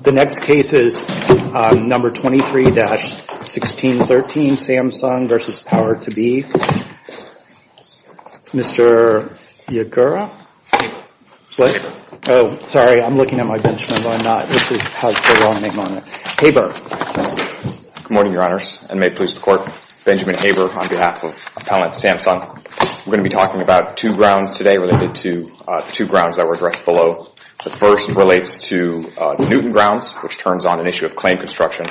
The next case is No. 23-1613, Samsung v. Power2B, Mr. Yagura? Haber. Haber. Oh, sorry, I'm looking at my Benchmark, but I'm not. This has the wrong name on it. Haber. Good morning, Your Honors, and may it please the Court, Benjamin Haber on behalf of Appellant Samsung. We're going to be talking about two grounds today related to the two grounds that were addressed below. The first relates to the Newton grounds, which turns on an issue of claim construction.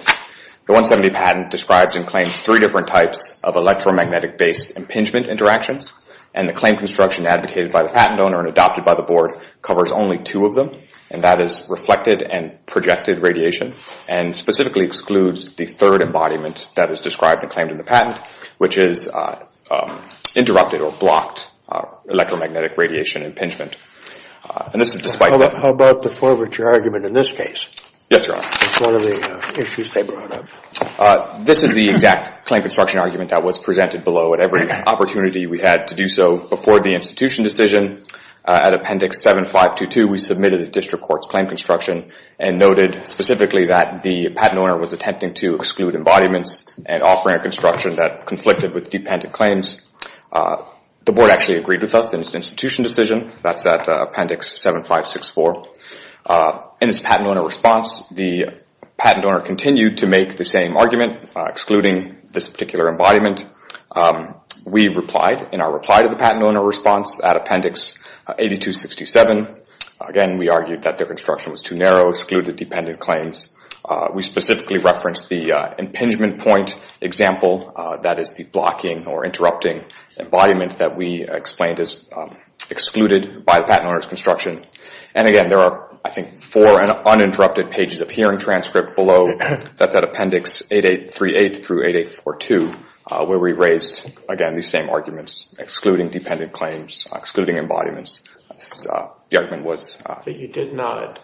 The 170 patent describes and claims three different types of electromagnetic-based impingement interactions, and the claim construction advocated by the patent owner and adopted by the Board covers only two of them, and that is reflected and projected radiation, and specifically excludes the third embodiment that is described and claimed in the patent, which is interrupted or blocked electromagnetic radiation impingement. How about the forfeiture argument in this case? Yes, Your Honor. It's one of the issues they brought up. This is the exact claim construction argument that was presented below at every opportunity we had to do so before the institution decision. At Appendix 7522, we submitted the District Court's claim construction and noted specifically that the patent owner was attempting to exclude embodiments and offering a construction that conflicted with dependent claims. The Board actually agreed with us in its institution decision. That's at Appendix 7564. In its patent owner response, the patent owner continued to make the same argument, excluding this particular embodiment. We replied in our reply to the patent owner response at Appendix 8267. Again, we argued that their construction was too narrow, excluded dependent claims. We specifically referenced the impingement point example, that is the blocking or interrupting embodiment that we explained is excluded by the patent owner's construction. And again, there are, I think, four uninterrupted pages of hearing transcript below. That's at Appendix 8838 through 8842, where we raised, again, these same arguments, excluding dependent claims, excluding embodiments. The argument was... But you did not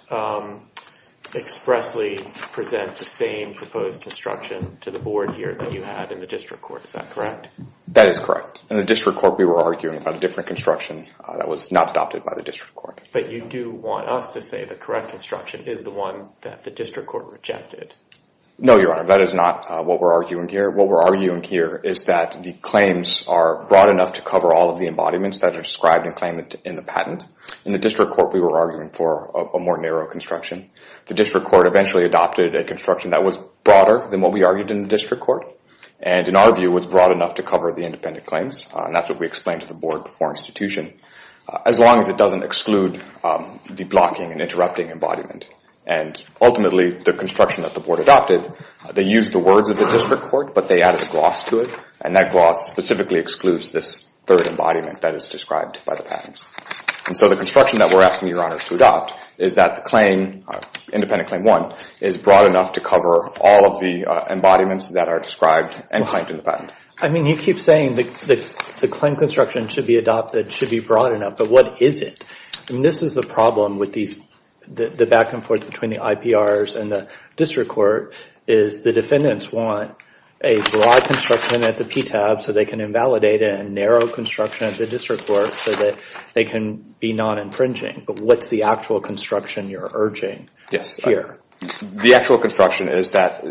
expressly present the same proposed construction to the Board here that you had in the District Court. Is that correct? That is correct. In the District Court, we were arguing about a different construction that was not adopted by the District Court. But you do want us to say the correct construction is the one that the District Court rejected. No, Your Honor. That is not what we're arguing here. What we're arguing here is that the claims are broad enough to cover all of the embodiments that are described and claimed in the patent. In the District Court, we were arguing for a more narrow construction. The District Court eventually adopted a construction that was broader than what we argued in the District Court, and in our view, was broad enough to cover the independent claims. And that's what we explained to the Board before institution, as long as it doesn't exclude the blocking and interrupting embodiment. And ultimately, the construction that the Board adopted, they used the words of the District Court, but they added gloss to it. And that gloss specifically excludes this third embodiment that is described by the And so the construction that we're asking Your Honors to adopt is that the claim, independent claim one, is broad enough to cover all of the embodiments that are described and claimed in the patent. I mean, you keep saying the claim construction should be adopted, should be broad enough. But what is it? I mean, this is the problem with the back and forth between the IPRs and the District Court, is the defendants want a broad construction at the PTAB so they can invalidate it, and narrow construction at the District Court so that they can be non-infringing. But what's the actual construction you're urging here? The actual construction is that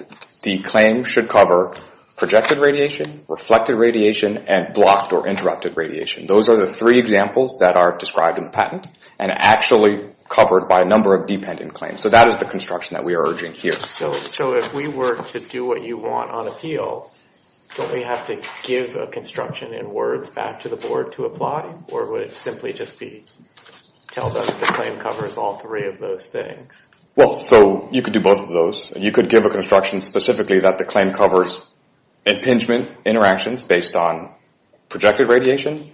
the claim should cover projected radiation, reflected radiation, and blocked or interrupted radiation. Those are the three examples that are described in the patent, and actually covered by a number of dependent claims. So that is the construction that we are urging here. So if we were to do what you want on appeal, don't we have to give a construction in words back to the board to apply, or would it simply just be tell them the claim covers all three of those things? Well, so you could do both of those. You could give a construction specifically that the claim covers impingement interactions based on projected radiation,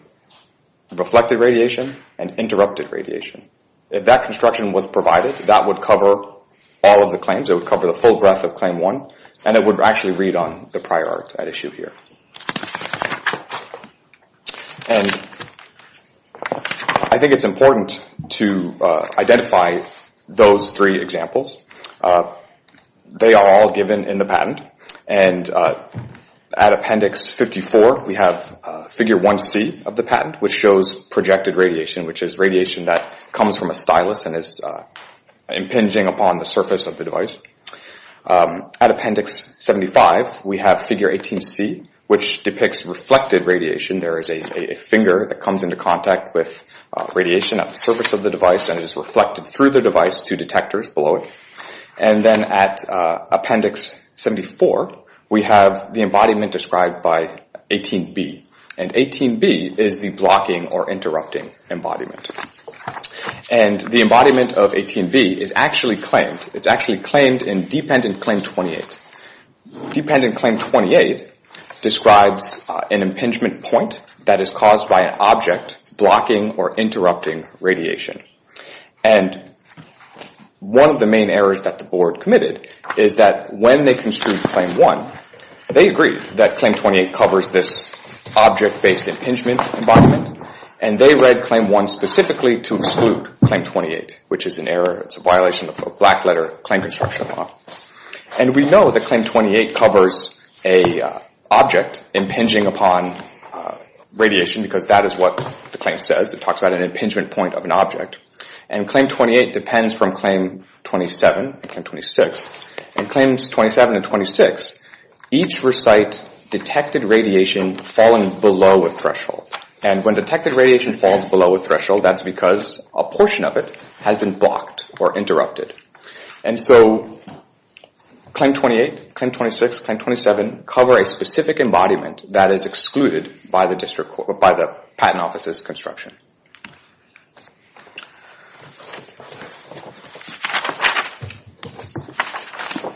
reflected radiation, and interrupted radiation. If that construction was provided, that would cover all of the claims. It would cover the full breadth of Claim 1, and it would actually read on the prior art at issue here. And I think it's important to identify those three examples. They are all given in the patent, and at Appendix 54, we have Figure 1C of the patent, which shows projected radiation, which is radiation that comes from a stylus and is impinging upon the surface of the device. At Appendix 75, we have Figure 18C, which depicts reflected radiation. There is a finger that comes into contact with radiation at the surface of the device, and it is reflected through the device to detectors below it. And then at Appendix 74, we have the embodiment described by 18B. And 18B is the blocking or interrupting embodiment. And the embodiment of 18B is actually claimed. It's actually claimed in Dependent Claim 28. Dependent Claim 28 describes an impingement point that is caused by an object blocking or interrupting radiation. And one of the main errors that the board committed is that when they construed Claim 1, they agreed that Claim 28 covers this object-based impingement embodiment, and they read Claim 1 specifically to exclude Claim 28, which is an error. It's a violation of black letter claim construction law. And we know that Claim 28 covers an object impinging upon radiation, because that is what the claim says. It talks about an impingement point of an object. And Claim 28 depends from Claim 27 and Claim 26. In Claims 27 and 26, each recite detected radiation falling below a threshold. And when detected radiation falls below a threshold, that's because a portion of it has been blocked or interrupted. And so Claim 28, Claim 26, Claim 27 cover a specific embodiment that is excluded by the Patent Office's construction.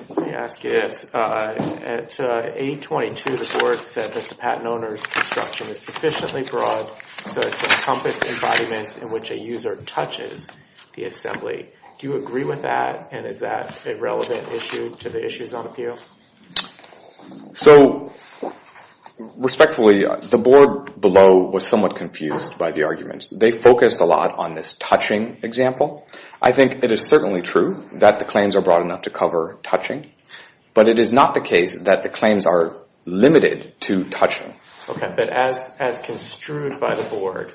Let me ask you this. At 822, the board said that the patent owner's construction is sufficiently broad to encompass embodiments in which a user touches the assembly. Do you agree with that, and is that a relevant issue to the issues on appeal? So respectfully, the board below was somewhat confused by the arguments. They focused a lot on this touching example. I think it is certainly true that the claims are broad enough to cover touching, but it is not the case that the claims are limited to touching. Okay, but as construed by the board,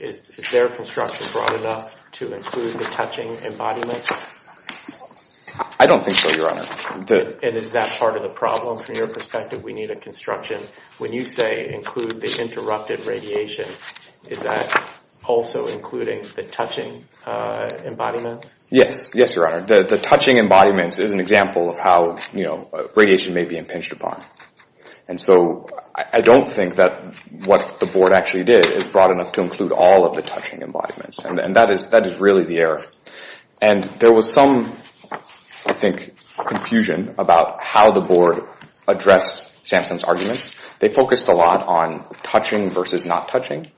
is their construction broad enough to include the touching embodiments? I don't think so, Your Honor. And is that part of the problem? From your perspective, we need a construction. When you say include the interrupted radiation, is that also including the touching embodiments? Yes, Your Honor. The touching embodiments is an example of how radiation may be impinged upon. And so I don't think that what the board actually did is broad enough to include all of the touching embodiments, and that is really the error. And there was some, I think, confusion about how the board addressed Samson's arguments. They focused a lot on touching versus not touching,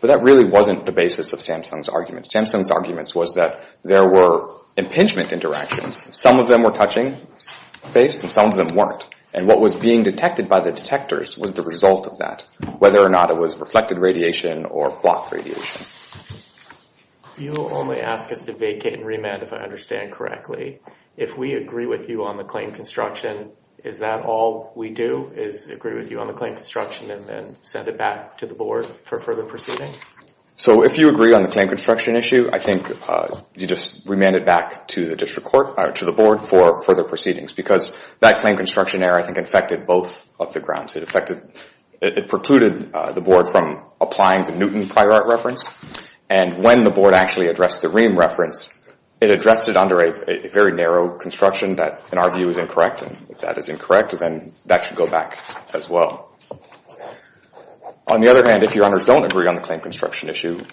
but that really wasn't the basis of Samson's arguments. Samson's arguments was that there were impingement interactions. Some of them were touching-based, and some of them weren't. And what was being detected by the detectors was the result of that, whether or not it was reflected radiation or blocked radiation. You will only ask us to vacate and remand, if I understand correctly. If we agree with you on the claim construction, is that all we do is agree with you on the claim construction and then send it back to the board for further proceedings? So if you agree on the claim construction issue, I think you just remand it back to the board for further proceedings because that claim construction error, I think, affected both of the grounds. It precluded the board from applying the Newton prior art reference. And when the board actually addressed the Rehm reference, it addressed it under a very narrow construction that, in our view, is incorrect. And if that is incorrect, then that should go back as well. On the other hand, if your honors don't agree on the claim construction issue,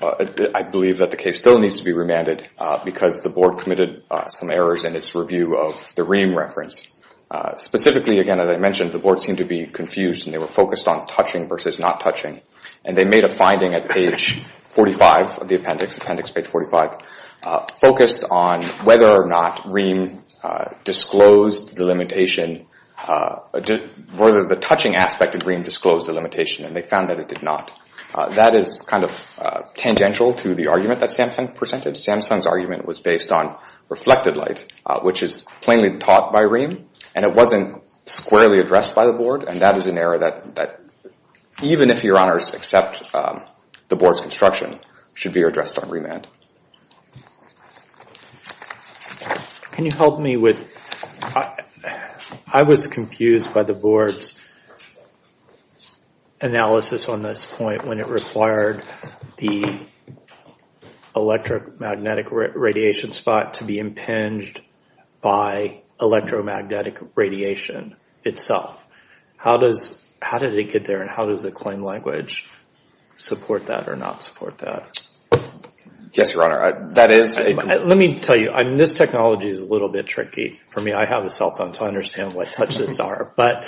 I believe that the case still needs to be remanded because the board committed some errors in its review of the Rehm reference. Specifically, again, as I mentioned, the board seemed to be confused and they were focused on touching versus not touching. And they made a finding at page 45 of the appendix, appendix page 45, focused on whether or not Rehm disclosed the limitation, whether the touching aspect of Rehm disclosed the limitation. And they found that it did not. That is kind of tangential to the argument that Samson presented. Samson's argument was based on reflected light, which is plainly taught by Rehm. And it wasn't squarely addressed by the board. And that is an error that, even if your honors accept the board's construction, should be addressed on remand. Can you help me with, I was confused by the board's analysis on this point when it required the electromagnetic radiation spot to be impinged by electromagnetic radiation itself. How did it get there? And how does the claim language support that or not support that? Yes, your honor. Let me tell you, this technology is a little bit tricky for me. I have a cell phone, so I understand what touches are. But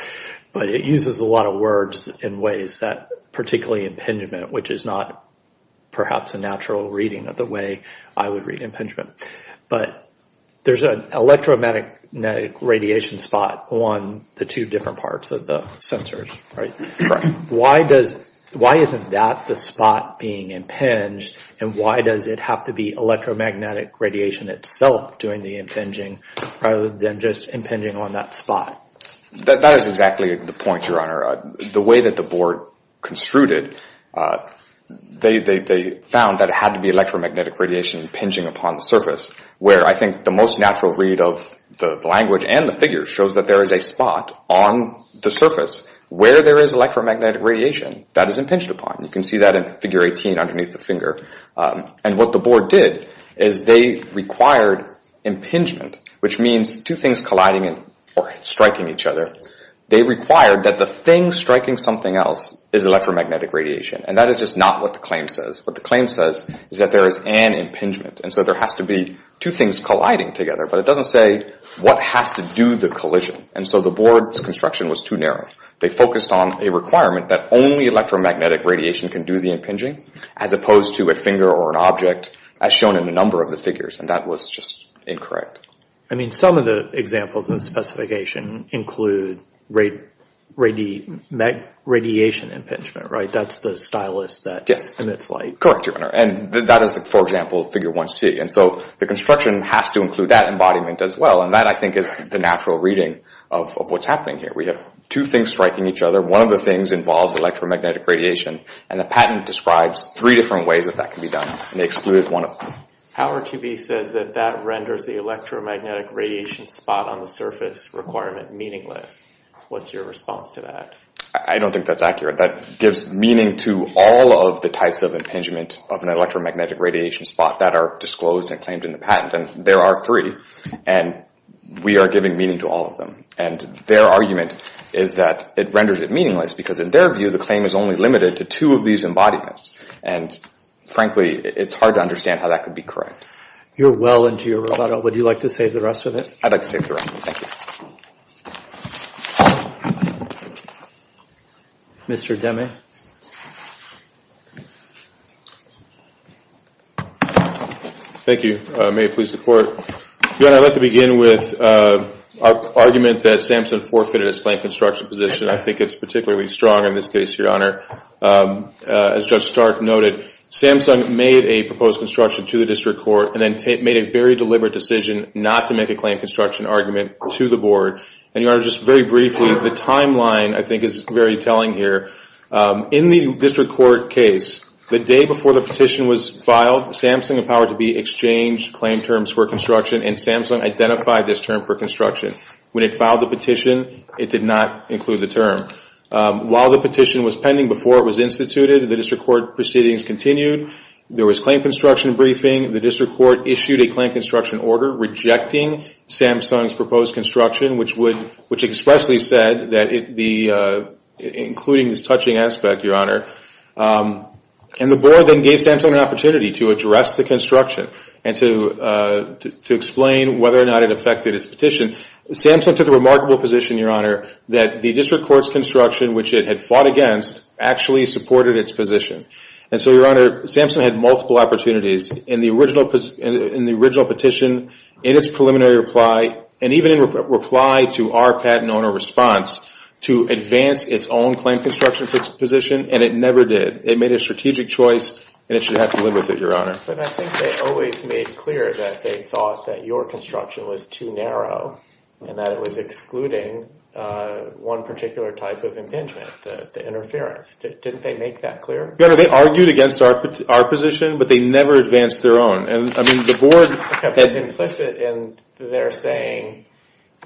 it uses a lot of words in ways that, particularly impingement, which is not perhaps a natural reading of the way I would read impingement. But there's an electromagnetic radiation spot on the two different parts of the sensors, right? Why isn't that the spot being impinged, and why does it have to be electromagnetic radiation itself doing the impinging rather than just impinging on that spot? That is exactly the point, your honor. The way that the board construed it, they found that it had to be electromagnetic radiation impinging upon the surface, where I think the most natural read of the language and the figures shows that there is a spot on the surface where there is electromagnetic radiation that is impinged upon. You can see that in figure 18 underneath the finger. And what the board did is they required impingement, which means two things colliding or striking each other. They required that the thing striking something else is electromagnetic radiation. And that is just not what the claim says. What the claim says is that there is an impingement. And so there has to be two things colliding together. But it doesn't say what has to do the collision. And so the board's construction was too narrow. They focused on a requirement that only electromagnetic radiation can do the impinging as opposed to a finger or an object as shown in a number of the figures. And that was just incorrect. I mean, some of the examples in the specification include radiation impingement, right? That's the stylus that emits light. Correct, your honor. And that is, for example, figure 1C. And so the construction has to include that embodiment as well. And that, I think, is the natural reading of what's happening here. We have two things striking each other. One of the things involves electromagnetic radiation. And the patent describes three different ways that that can be done. And they exclude one of them. Power to be says that that renders the electromagnetic radiation spot on the surface requirement meaningless. What's your response to that? I don't think that's accurate. That gives meaning to all of the types of impingement of an electromagnetic radiation spot that are disclosed and claimed in the patent. And there are three. And we are giving meaning to all of them. And their argument is that it renders it meaningless because, in their view, the claim is only limited to two of these embodiments. And, frankly, it's hard to understand how that could be correct. You're well into your rubato. Would you like to save the rest of it? I'd like to save the rest of it. Thank you. Mr. Demme. Thank you. May it please the Court. Your Honor, I'd like to begin with our argument that SAMHSA forfeited its claim construction position. I think it's particularly strong in this case, Your Honor. As Judge Stark noted, SAMHSA made a proposed construction to the District Court and then made a very deliberate decision not to make a claim construction argument to the Board. And, Your Honor, just very briefly, the timeline, I think, is very telling here. In the District Court case, the day before the petition was filed, SAMHSA empowered to be exchanged claim terms for construction, and SAMHSA identified this term for construction. When it filed the petition, it did not include the term. While the petition was pending before it was instituted, the District Court proceedings continued. There was claim construction briefing. The District Court issued a claim construction order rejecting SAMHSA's proposed construction, which expressly said that it, including this touching aspect, Your Honor. And the Board then gave SAMHSA an opportunity to address the construction and to explain whether or not it affected its petition. SAMHSA took the remarkable position, Your Honor, that the District Court's construction, which it had fought against, actually supported its position. And so, Your Honor, SAMHSA had multiple opportunities in the original petition, in its preliminary reply, and even in reply to our patent owner response, to advance its own claim construction position, and it never did. It made a strategic choice, and it should have to live with it, Your Honor. But I think they always made clear that they thought that your construction was too narrow, and that it was excluding one particular type of impingement, the interference. Didn't they make that clear? Your Honor, they argued against our position, but they never advanced their own. And, I mean, the Board... That's implicit, and they're saying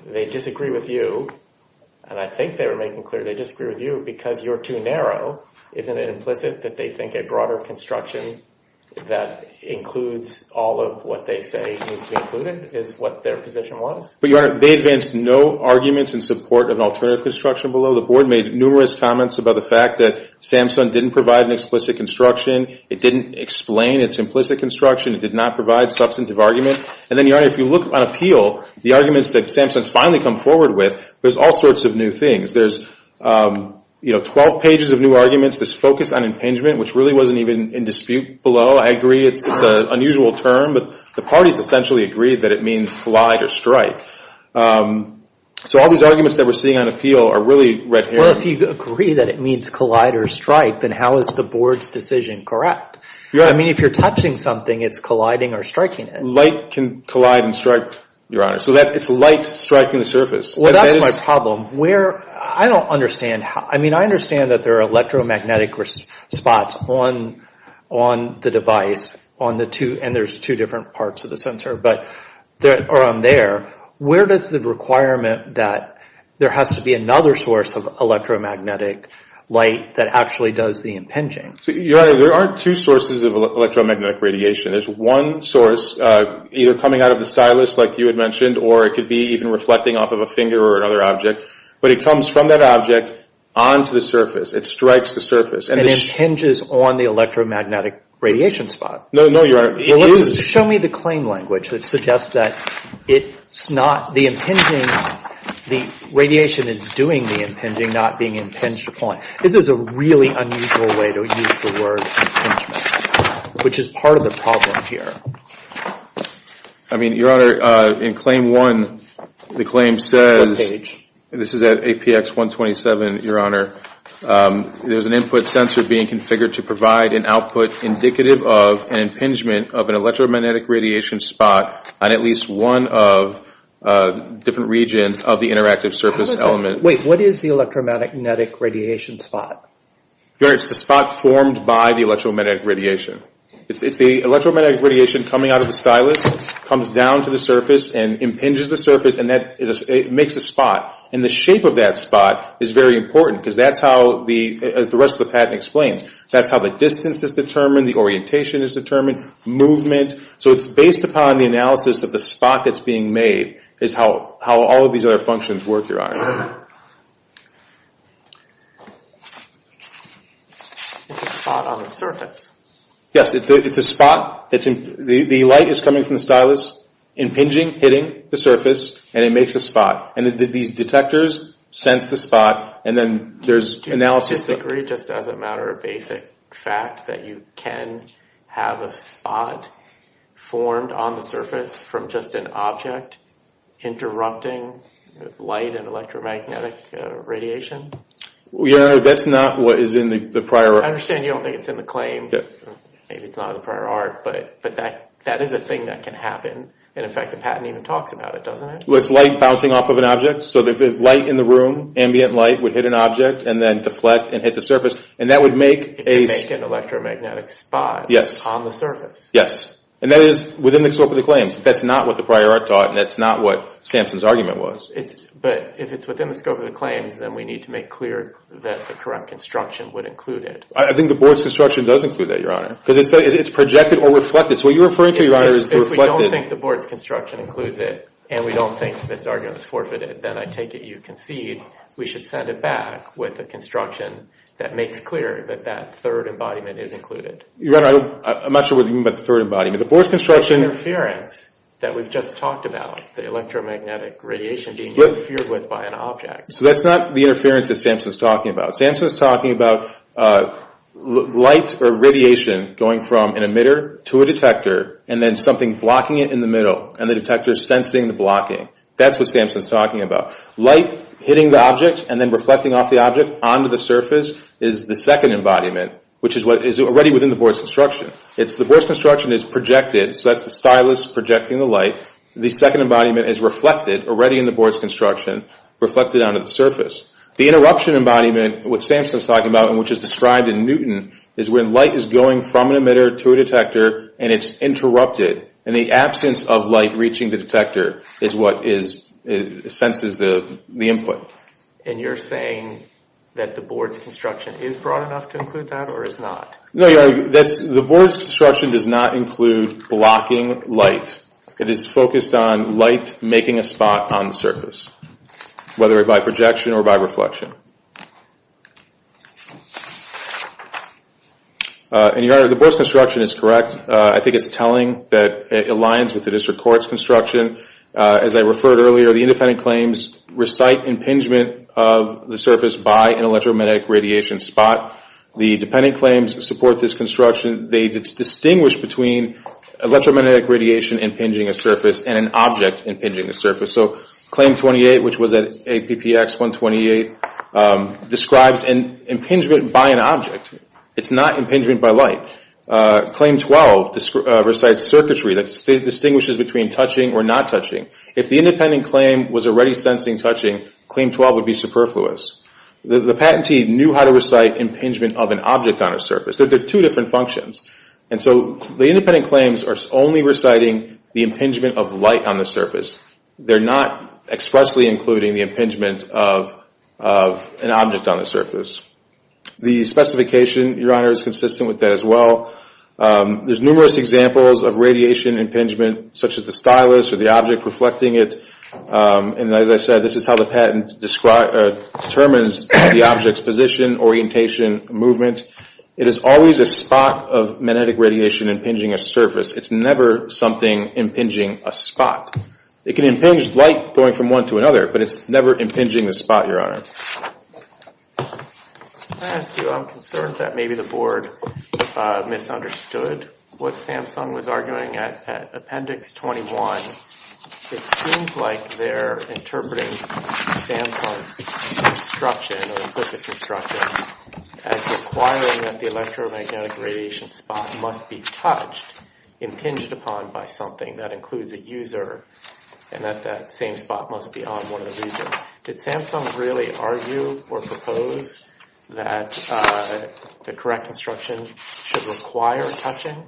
they disagree with you, and I think they were making clear they disagree with you, because you're too narrow. Isn't it implicit that they think a broader construction that includes all of what they say needs to be included is what their position was? But, Your Honor, they advanced no arguments in support of an alternative construction below. The Board made numerous comments about the fact that SAMHSA didn't provide an explicit construction. It didn't explain its implicit construction. It did not provide substantive argument. And then, Your Honor, if you look on appeal, the arguments that SAMHSA has finally come forward with, there's all sorts of new things. There's, you know, 12 pages of new arguments that's focused on impingement, which really wasn't even in dispute below. I agree it's an unusual term, but the parties essentially agreed that it means collide or strike. So all these arguments that we're seeing on appeal are really red herring. Well, if you agree that it means collide or strike, then how is the Board's decision correct? I mean, if you're touching something, it's colliding or striking it. Light can collide and strike, Your Honor. So it's light striking the surface. Well, that's my problem. I don't understand. I mean, I understand that there are electromagnetic spots on the device, and there's two different parts of the sensor that are on there. Where does the requirement that there has to be another source of electromagnetic light that actually does the impinging? So, Your Honor, there are two sources of electromagnetic radiation. There's one source either coming out of the stylus, like you had mentioned, or it could be even reflecting off of a finger or another object. But it comes from that object onto the surface. It strikes the surface. And it impinges on the electromagnetic radiation spot. No, Your Honor. Show me the claim language that suggests that it's not the impinging. The radiation is doing the impinging, not being impinged upon. This is a really unusual way to use the word impingement, which is part of the problem here. I mean, Your Honor, in Claim 1, the claim says, and this is at APX 127, Your Honor, there's an input sensor being configured to provide an output indicative of an impingement of an electromagnetic radiation spot on at least one of different regions of the interactive surface element. Wait. What is the electromagnetic radiation spot? Your Honor, it's the spot formed by the electromagnetic radiation. It's the electromagnetic radiation coming out of the stylus, comes down to the surface, and impinges the surface, and it makes a spot. And the shape of that spot is very important because that's how, as the rest of the patent explains, that's how the distance is determined, the orientation is determined, movement. So it's based upon the analysis of the spot that's being made is how all of these other functions work, Your Honor. It's a spot on the surface. Yes, it's a spot. The light is coming from the stylus, impinging, hitting the surface, and it makes a spot. And these detectors sense the spot, and then there's analysis. Do you disagree just as a matter of basic fact that you can have a spot formed on the surface from just an object interrupting light and electromagnetic radiation? Your Honor, that's not what is in the prior art. I understand you don't think it's in the claim. Maybe it's not in the prior art, but that is a thing that can happen. And, in fact, the patent even talks about it, doesn't it? Well, it's light bouncing off of an object. So if there's light in the room, ambient light would hit an object and then deflect and hit the surface, and that would make a spot on the surface. Yes. And that is within the scope of the claims. That's not what the prior art taught, and that's not what Sampson's argument was. But if it's within the scope of the claims, then we need to make clear that the correct construction would include it. I think the board's construction does include that, Your Honor, because it's projected or reflected. So what you're referring to, Your Honor, is the reflected. If we don't think the board's construction includes it and we don't think this argument is forfeited, then I take it you concede we should send it back with a construction that makes clear that that third embodiment is included. Your Honor, I'm not sure what you mean by the third embodiment. The interference that we've just talked about, the electromagnetic radiation being interfered with by an object. So that's not the interference that Sampson's talking about. Sampson's talking about light or radiation going from an emitter to a detector and then something blocking it in the middle, and the detector's sensing the blocking. That's what Sampson's talking about. Light hitting the object and then reflecting off the object onto the surface is the second embodiment, which is already within the board's construction. The board's construction is projected, so that's the stylus projecting the light. The second embodiment is reflected, already in the board's construction, reflected onto the surface. The interruption embodiment, which Sampson's talking about and which is described in Newton, is when light is going from an emitter to a detector and it's interrupted. And the absence of light reaching the detector is what senses the input. And you're saying that the board's construction is broad enough to include that or is not? No, Your Honor, the board's construction does not include blocking light. It is focused on light making a spot on the surface, whether by projection or by reflection. And, Your Honor, the board's construction is correct. I think it's telling that it aligns with the district court's construction. As I referred earlier, the independent claims recite impingement of the surface by an electromagnetic radiation spot. The dependent claims support this construction. They distinguish between electromagnetic radiation impinging a surface and an object impinging a surface. So Claim 28, which was at APPX 128, describes an impingement by an object. It's not impingement by light. Claim 12 recites circuitry that distinguishes between touching or not touching. If the independent claim was already sensing touching, Claim 12 would be superfluous. The patentee knew how to recite impingement of an object on a surface. They're two different functions. And so the independent claims are only reciting the impingement of light on the surface. They're not expressly including the impingement of an object on the surface. The specification, Your Honor, is consistent with that as well. There's numerous examples of radiation impingement, such as the stylus or the object reflecting it. And as I said, this is how the patent determines the object's position, orientation, movement. It is always a spot of magnetic radiation impinging a surface. It's never something impinging a spot. It can impinge light going from one to another, but it's never impinging a spot, Your Honor. May I ask you, I'm concerned that maybe the board misunderstood what Samsung was arguing at Appendix 21. It seems like they're interpreting Samsung's instruction, or implicit instruction, as requiring that the electromagnetic radiation spot must be touched, impinged upon by something that includes a user, and that that same spot must be on one of the regions. Did Samsung really argue or propose that the correct instruction should require touching?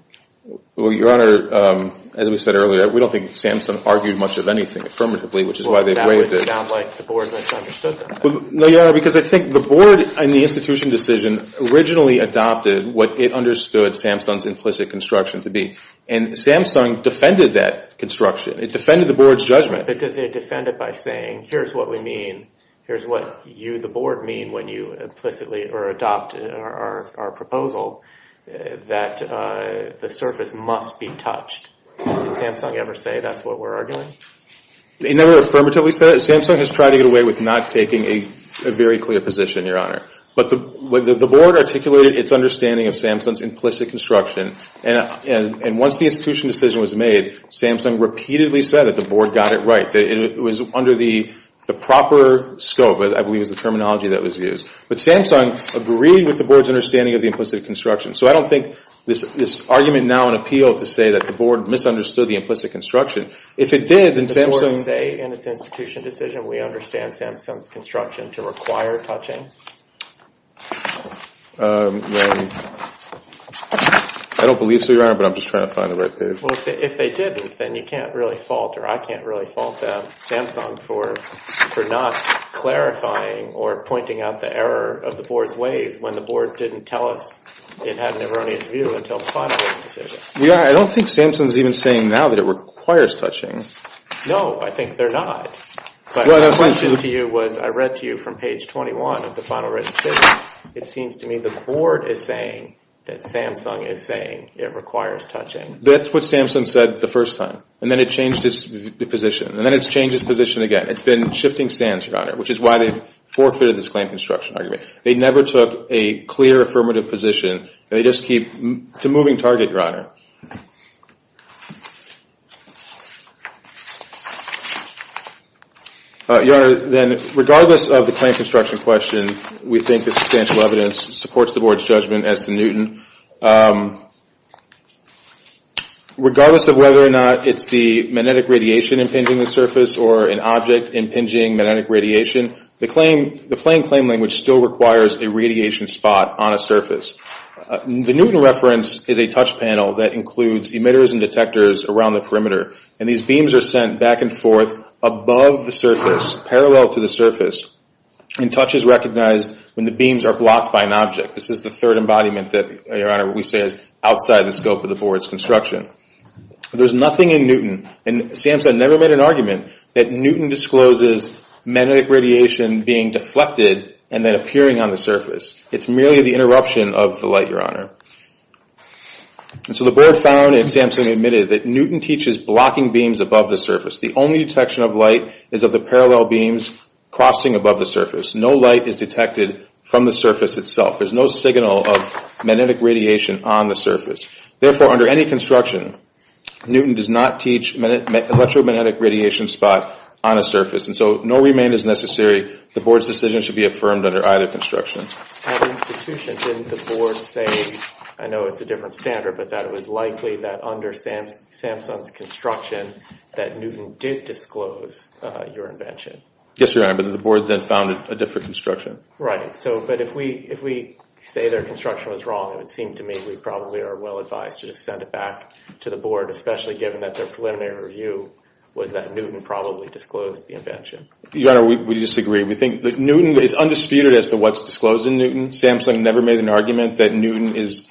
Well, Your Honor, as we said earlier, we don't think Samsung argued much of anything affirmatively, which is why they waived it. Well, that would sound like the board misunderstood that. No, Your Honor, because I think the board, in the institution decision, originally adopted what it understood Samsung's implicit construction to be. And Samsung defended that construction. It defended the board's judgment. But did they defend it by saying, here's what we mean, here's what you, the board, mean when you implicitly or adopt our proposal that the surface must be touched? Did Samsung ever say that's what we're arguing? They never affirmatively said it. Samsung has tried to get away with not taking a very clear position, Your Honor. But the board articulated its understanding of Samsung's implicit construction, and once the institution decision was made, Samsung repeatedly said that the board got it right, that it was under the proper scope, I believe is the terminology that was used. But Samsung agreed with the board's understanding of the implicit construction. So I don't think this argument now in appeal to say that the board misunderstood the implicit construction. If it did, then Samsung – Did the board say in its institution decision we understand Samsung's construction to require touching? I don't believe so, Your Honor, but I'm just trying to find the right page. Well, if they didn't, then you can't really fault, or I can't really fault Samsung for not clarifying or pointing out the error of the board's ways when the board didn't tell us it had an erroneous view until the final decision. Your Honor, I don't think Samsung's even saying now that it requires touching. No, I think they're not. My question to you was I read to you from page 21 of the final written decision. It seems to me the board is saying that Samsung is saying it requires touching. That's what Samsung said the first time, and then it changed its position, and then it's changed its position again. It's been shifting stands, Your Honor, which is why they've forfeited this claim construction argument. They never took a clear affirmative position. They just keep – it's a moving target, Your Honor. Your Honor, then regardless of the claim construction question, we think the substantial evidence supports the board's judgment as to Newton. Regardless of whether or not it's the magnetic radiation impinging the surface or an object impinging magnetic radiation, the plain claim language still requires a radiation spot on a surface. The Newton reference is a touch panel that includes emitters and detectors around the perimeter, and these beams are sent back and forth above the surface, parallel to the surface, and touch is recognized when the beams are blocked by an object. This is the third embodiment that, Your Honor, we say is outside the scope of the board's construction. There's nothing in Newton, and Samsung never made an argument, that Newton discloses magnetic radiation being deflected and then appearing on the surface. It's merely the interruption of the light, Your Honor. And so the board found, and Samsung admitted, that Newton teaches blocking beams above the surface. The only detection of light is of the parallel beams crossing above the surface. No light is detected from the surface itself. There's no signal of magnetic radiation on the surface. Therefore, under any construction, Newton does not teach electromagnetic radiation spot on a surface. And so no remain is necessary. The board's decision should be affirmed under either construction. At institution, didn't the board say, I know it's a different standard, but that it was likely that under Samsung's construction that Newton did disclose your invention? Yes, Your Honor, but the board then found a different construction. Right, but if we say their construction was wrong, it would seem to me we probably are well advised to just send it back to the board, especially given that their preliminary review was that Newton probably disclosed the invention. Your Honor, we disagree. We think that Newton is undisputed as to what's disclosed in Newton. Samsung never made an argument that Newton is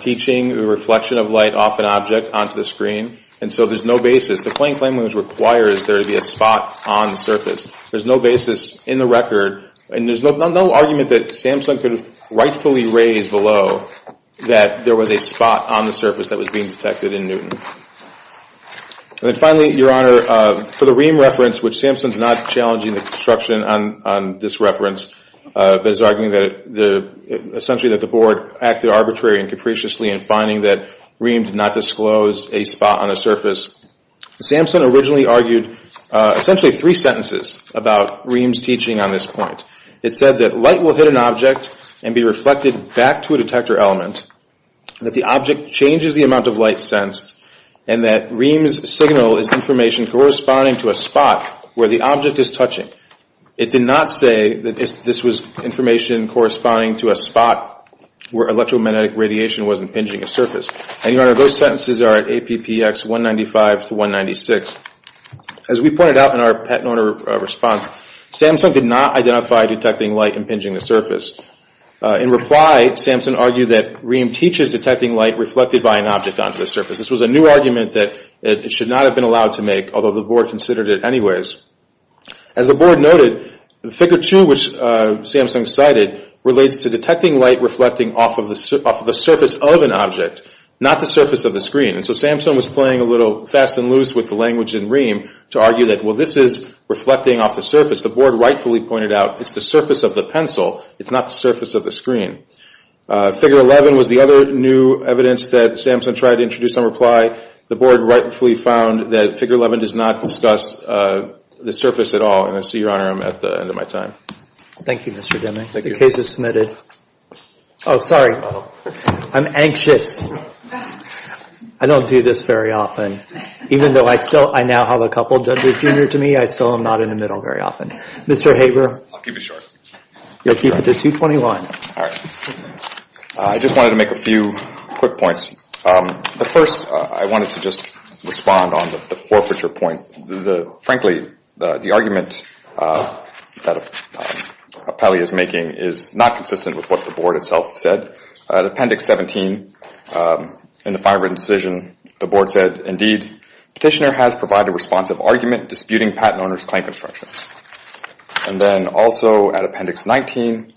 teaching the reflection of light off an object onto the screen. And so there's no basis. The plain flame language requires there to be a spot on the surface. There's no basis in the record, and there's no argument that Samsung could rightfully raise below that there was a spot on the surface that was being detected in Newton. And then finally, Your Honor, for the Ream reference, which Samsung is not challenging the construction on this reference, but is arguing that essentially that the board acted arbitrarily and capriciously in finding that Ream did not disclose a spot on a surface. Samsung originally argued essentially three sentences about Ream's teaching on this point. It said that light will hit an object and be reflected back to a detector element, that the object changes the amount of light sensed, and that Ream's signal is information corresponding to a spot where the object is touching. It did not say that this was information corresponding to a spot where electromagnetic radiation was impinging a surface. And, Your Honor, those sentences are at APPX 195 to 196. As we pointed out in our patent owner response, Samsung did not identify detecting light impinging a surface. In reply, Samsung argued that Ream teaches detecting light reflected by an object onto the surface. This was a new argument that it should not have been allowed to make, although the board considered it anyways. As the board noted, the Figure 2, which Samsung cited, relates to detecting light reflecting off of the surface of an object, not the surface of the screen. And so Samsung was playing a little fast and loose with the language in Ream to argue that, well, this is reflecting off the surface. The board rightfully pointed out it's the surface of the pencil. It's not the surface of the screen. Figure 11 was the other new evidence that Samsung tried to introduce on reply. The board rightfully found that Figure 11 does not discuss the surface at all. And I see, Your Honor, I'm at the end of my time. Thank you, Mr. Deming. The case is submitted. Oh, sorry. I'm anxious. I don't do this very often. Even though I now have a couple judges junior to me, I still am not in the middle very often. Mr. Haber. I'll keep it short. You'll keep it to 221. All right. I just wanted to make a few quick points. First, I wanted to just respond on the forfeiture point. Frankly, the argument that Appelli is making is not consistent with what the board itself said. At Appendix 17, in the fine written decision, the board said, Indeed, Petitioner has provided a responsive argument disputing patent owner's claim construction. And then also at Appendix 19,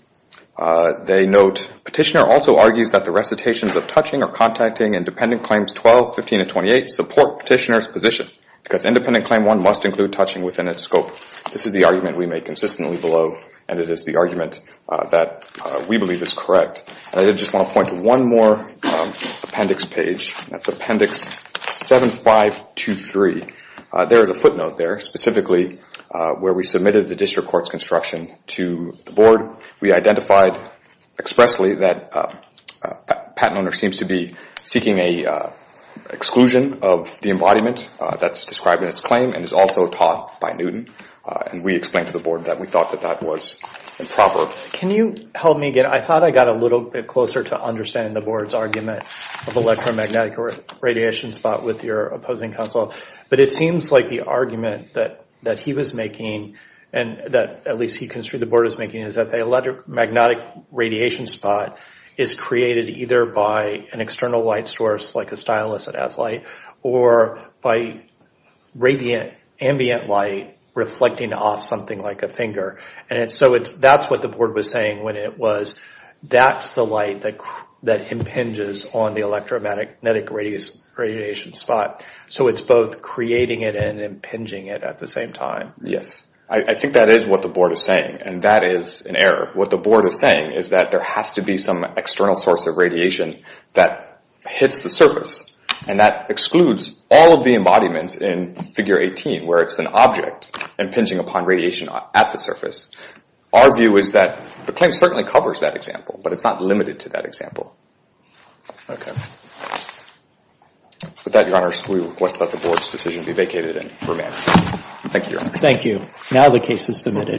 they note, Petitioner also argues that the recitations of touching or contacting independent claims 12, 15, and 28 support Petitioner's position because independent claim one must include touching within its scope. This is the argument we make consistently below, and it is the argument that we believe is correct. I just want to point to one more appendix page. That's Appendix 7523. There is a footnote there specifically where we submitted the district court's construction to the board. We identified expressly that a patent owner seems to be seeking an exclusion of the embodiment that's described in its claim and is also taught by Newton. And we explained to the board that we thought that that was improper. Can you help me? I thought I got a little bit closer to understanding the board's argument of electromagnetic radiation spot with your opposing counsel. But it seems like the argument that he was making, and that at least he construed the board was making, is that the electromagnetic radiation spot is created either by an external light source, like a stylus that has light, or by radiant ambient light reflecting off something like a finger. That's what the board was saying when it was, that's the light that impinges on the electromagnetic radiation spot. So it's both creating it and impinging it at the same time. Yes. I think that is what the board is saying, and that is an error. What the board is saying is that there has to be some external source of radiation that hits the surface, and that excludes all of the embodiments in Figure 18 where it's an object impinging upon radiation at the surface. Our view is that the claim certainly covers that example, but it's not limited to that example. Okay. With that, Your Honor, we request that the board's decision be vacated and remanded. Thank you, Your Honor. Thank you. Now the case is submitted.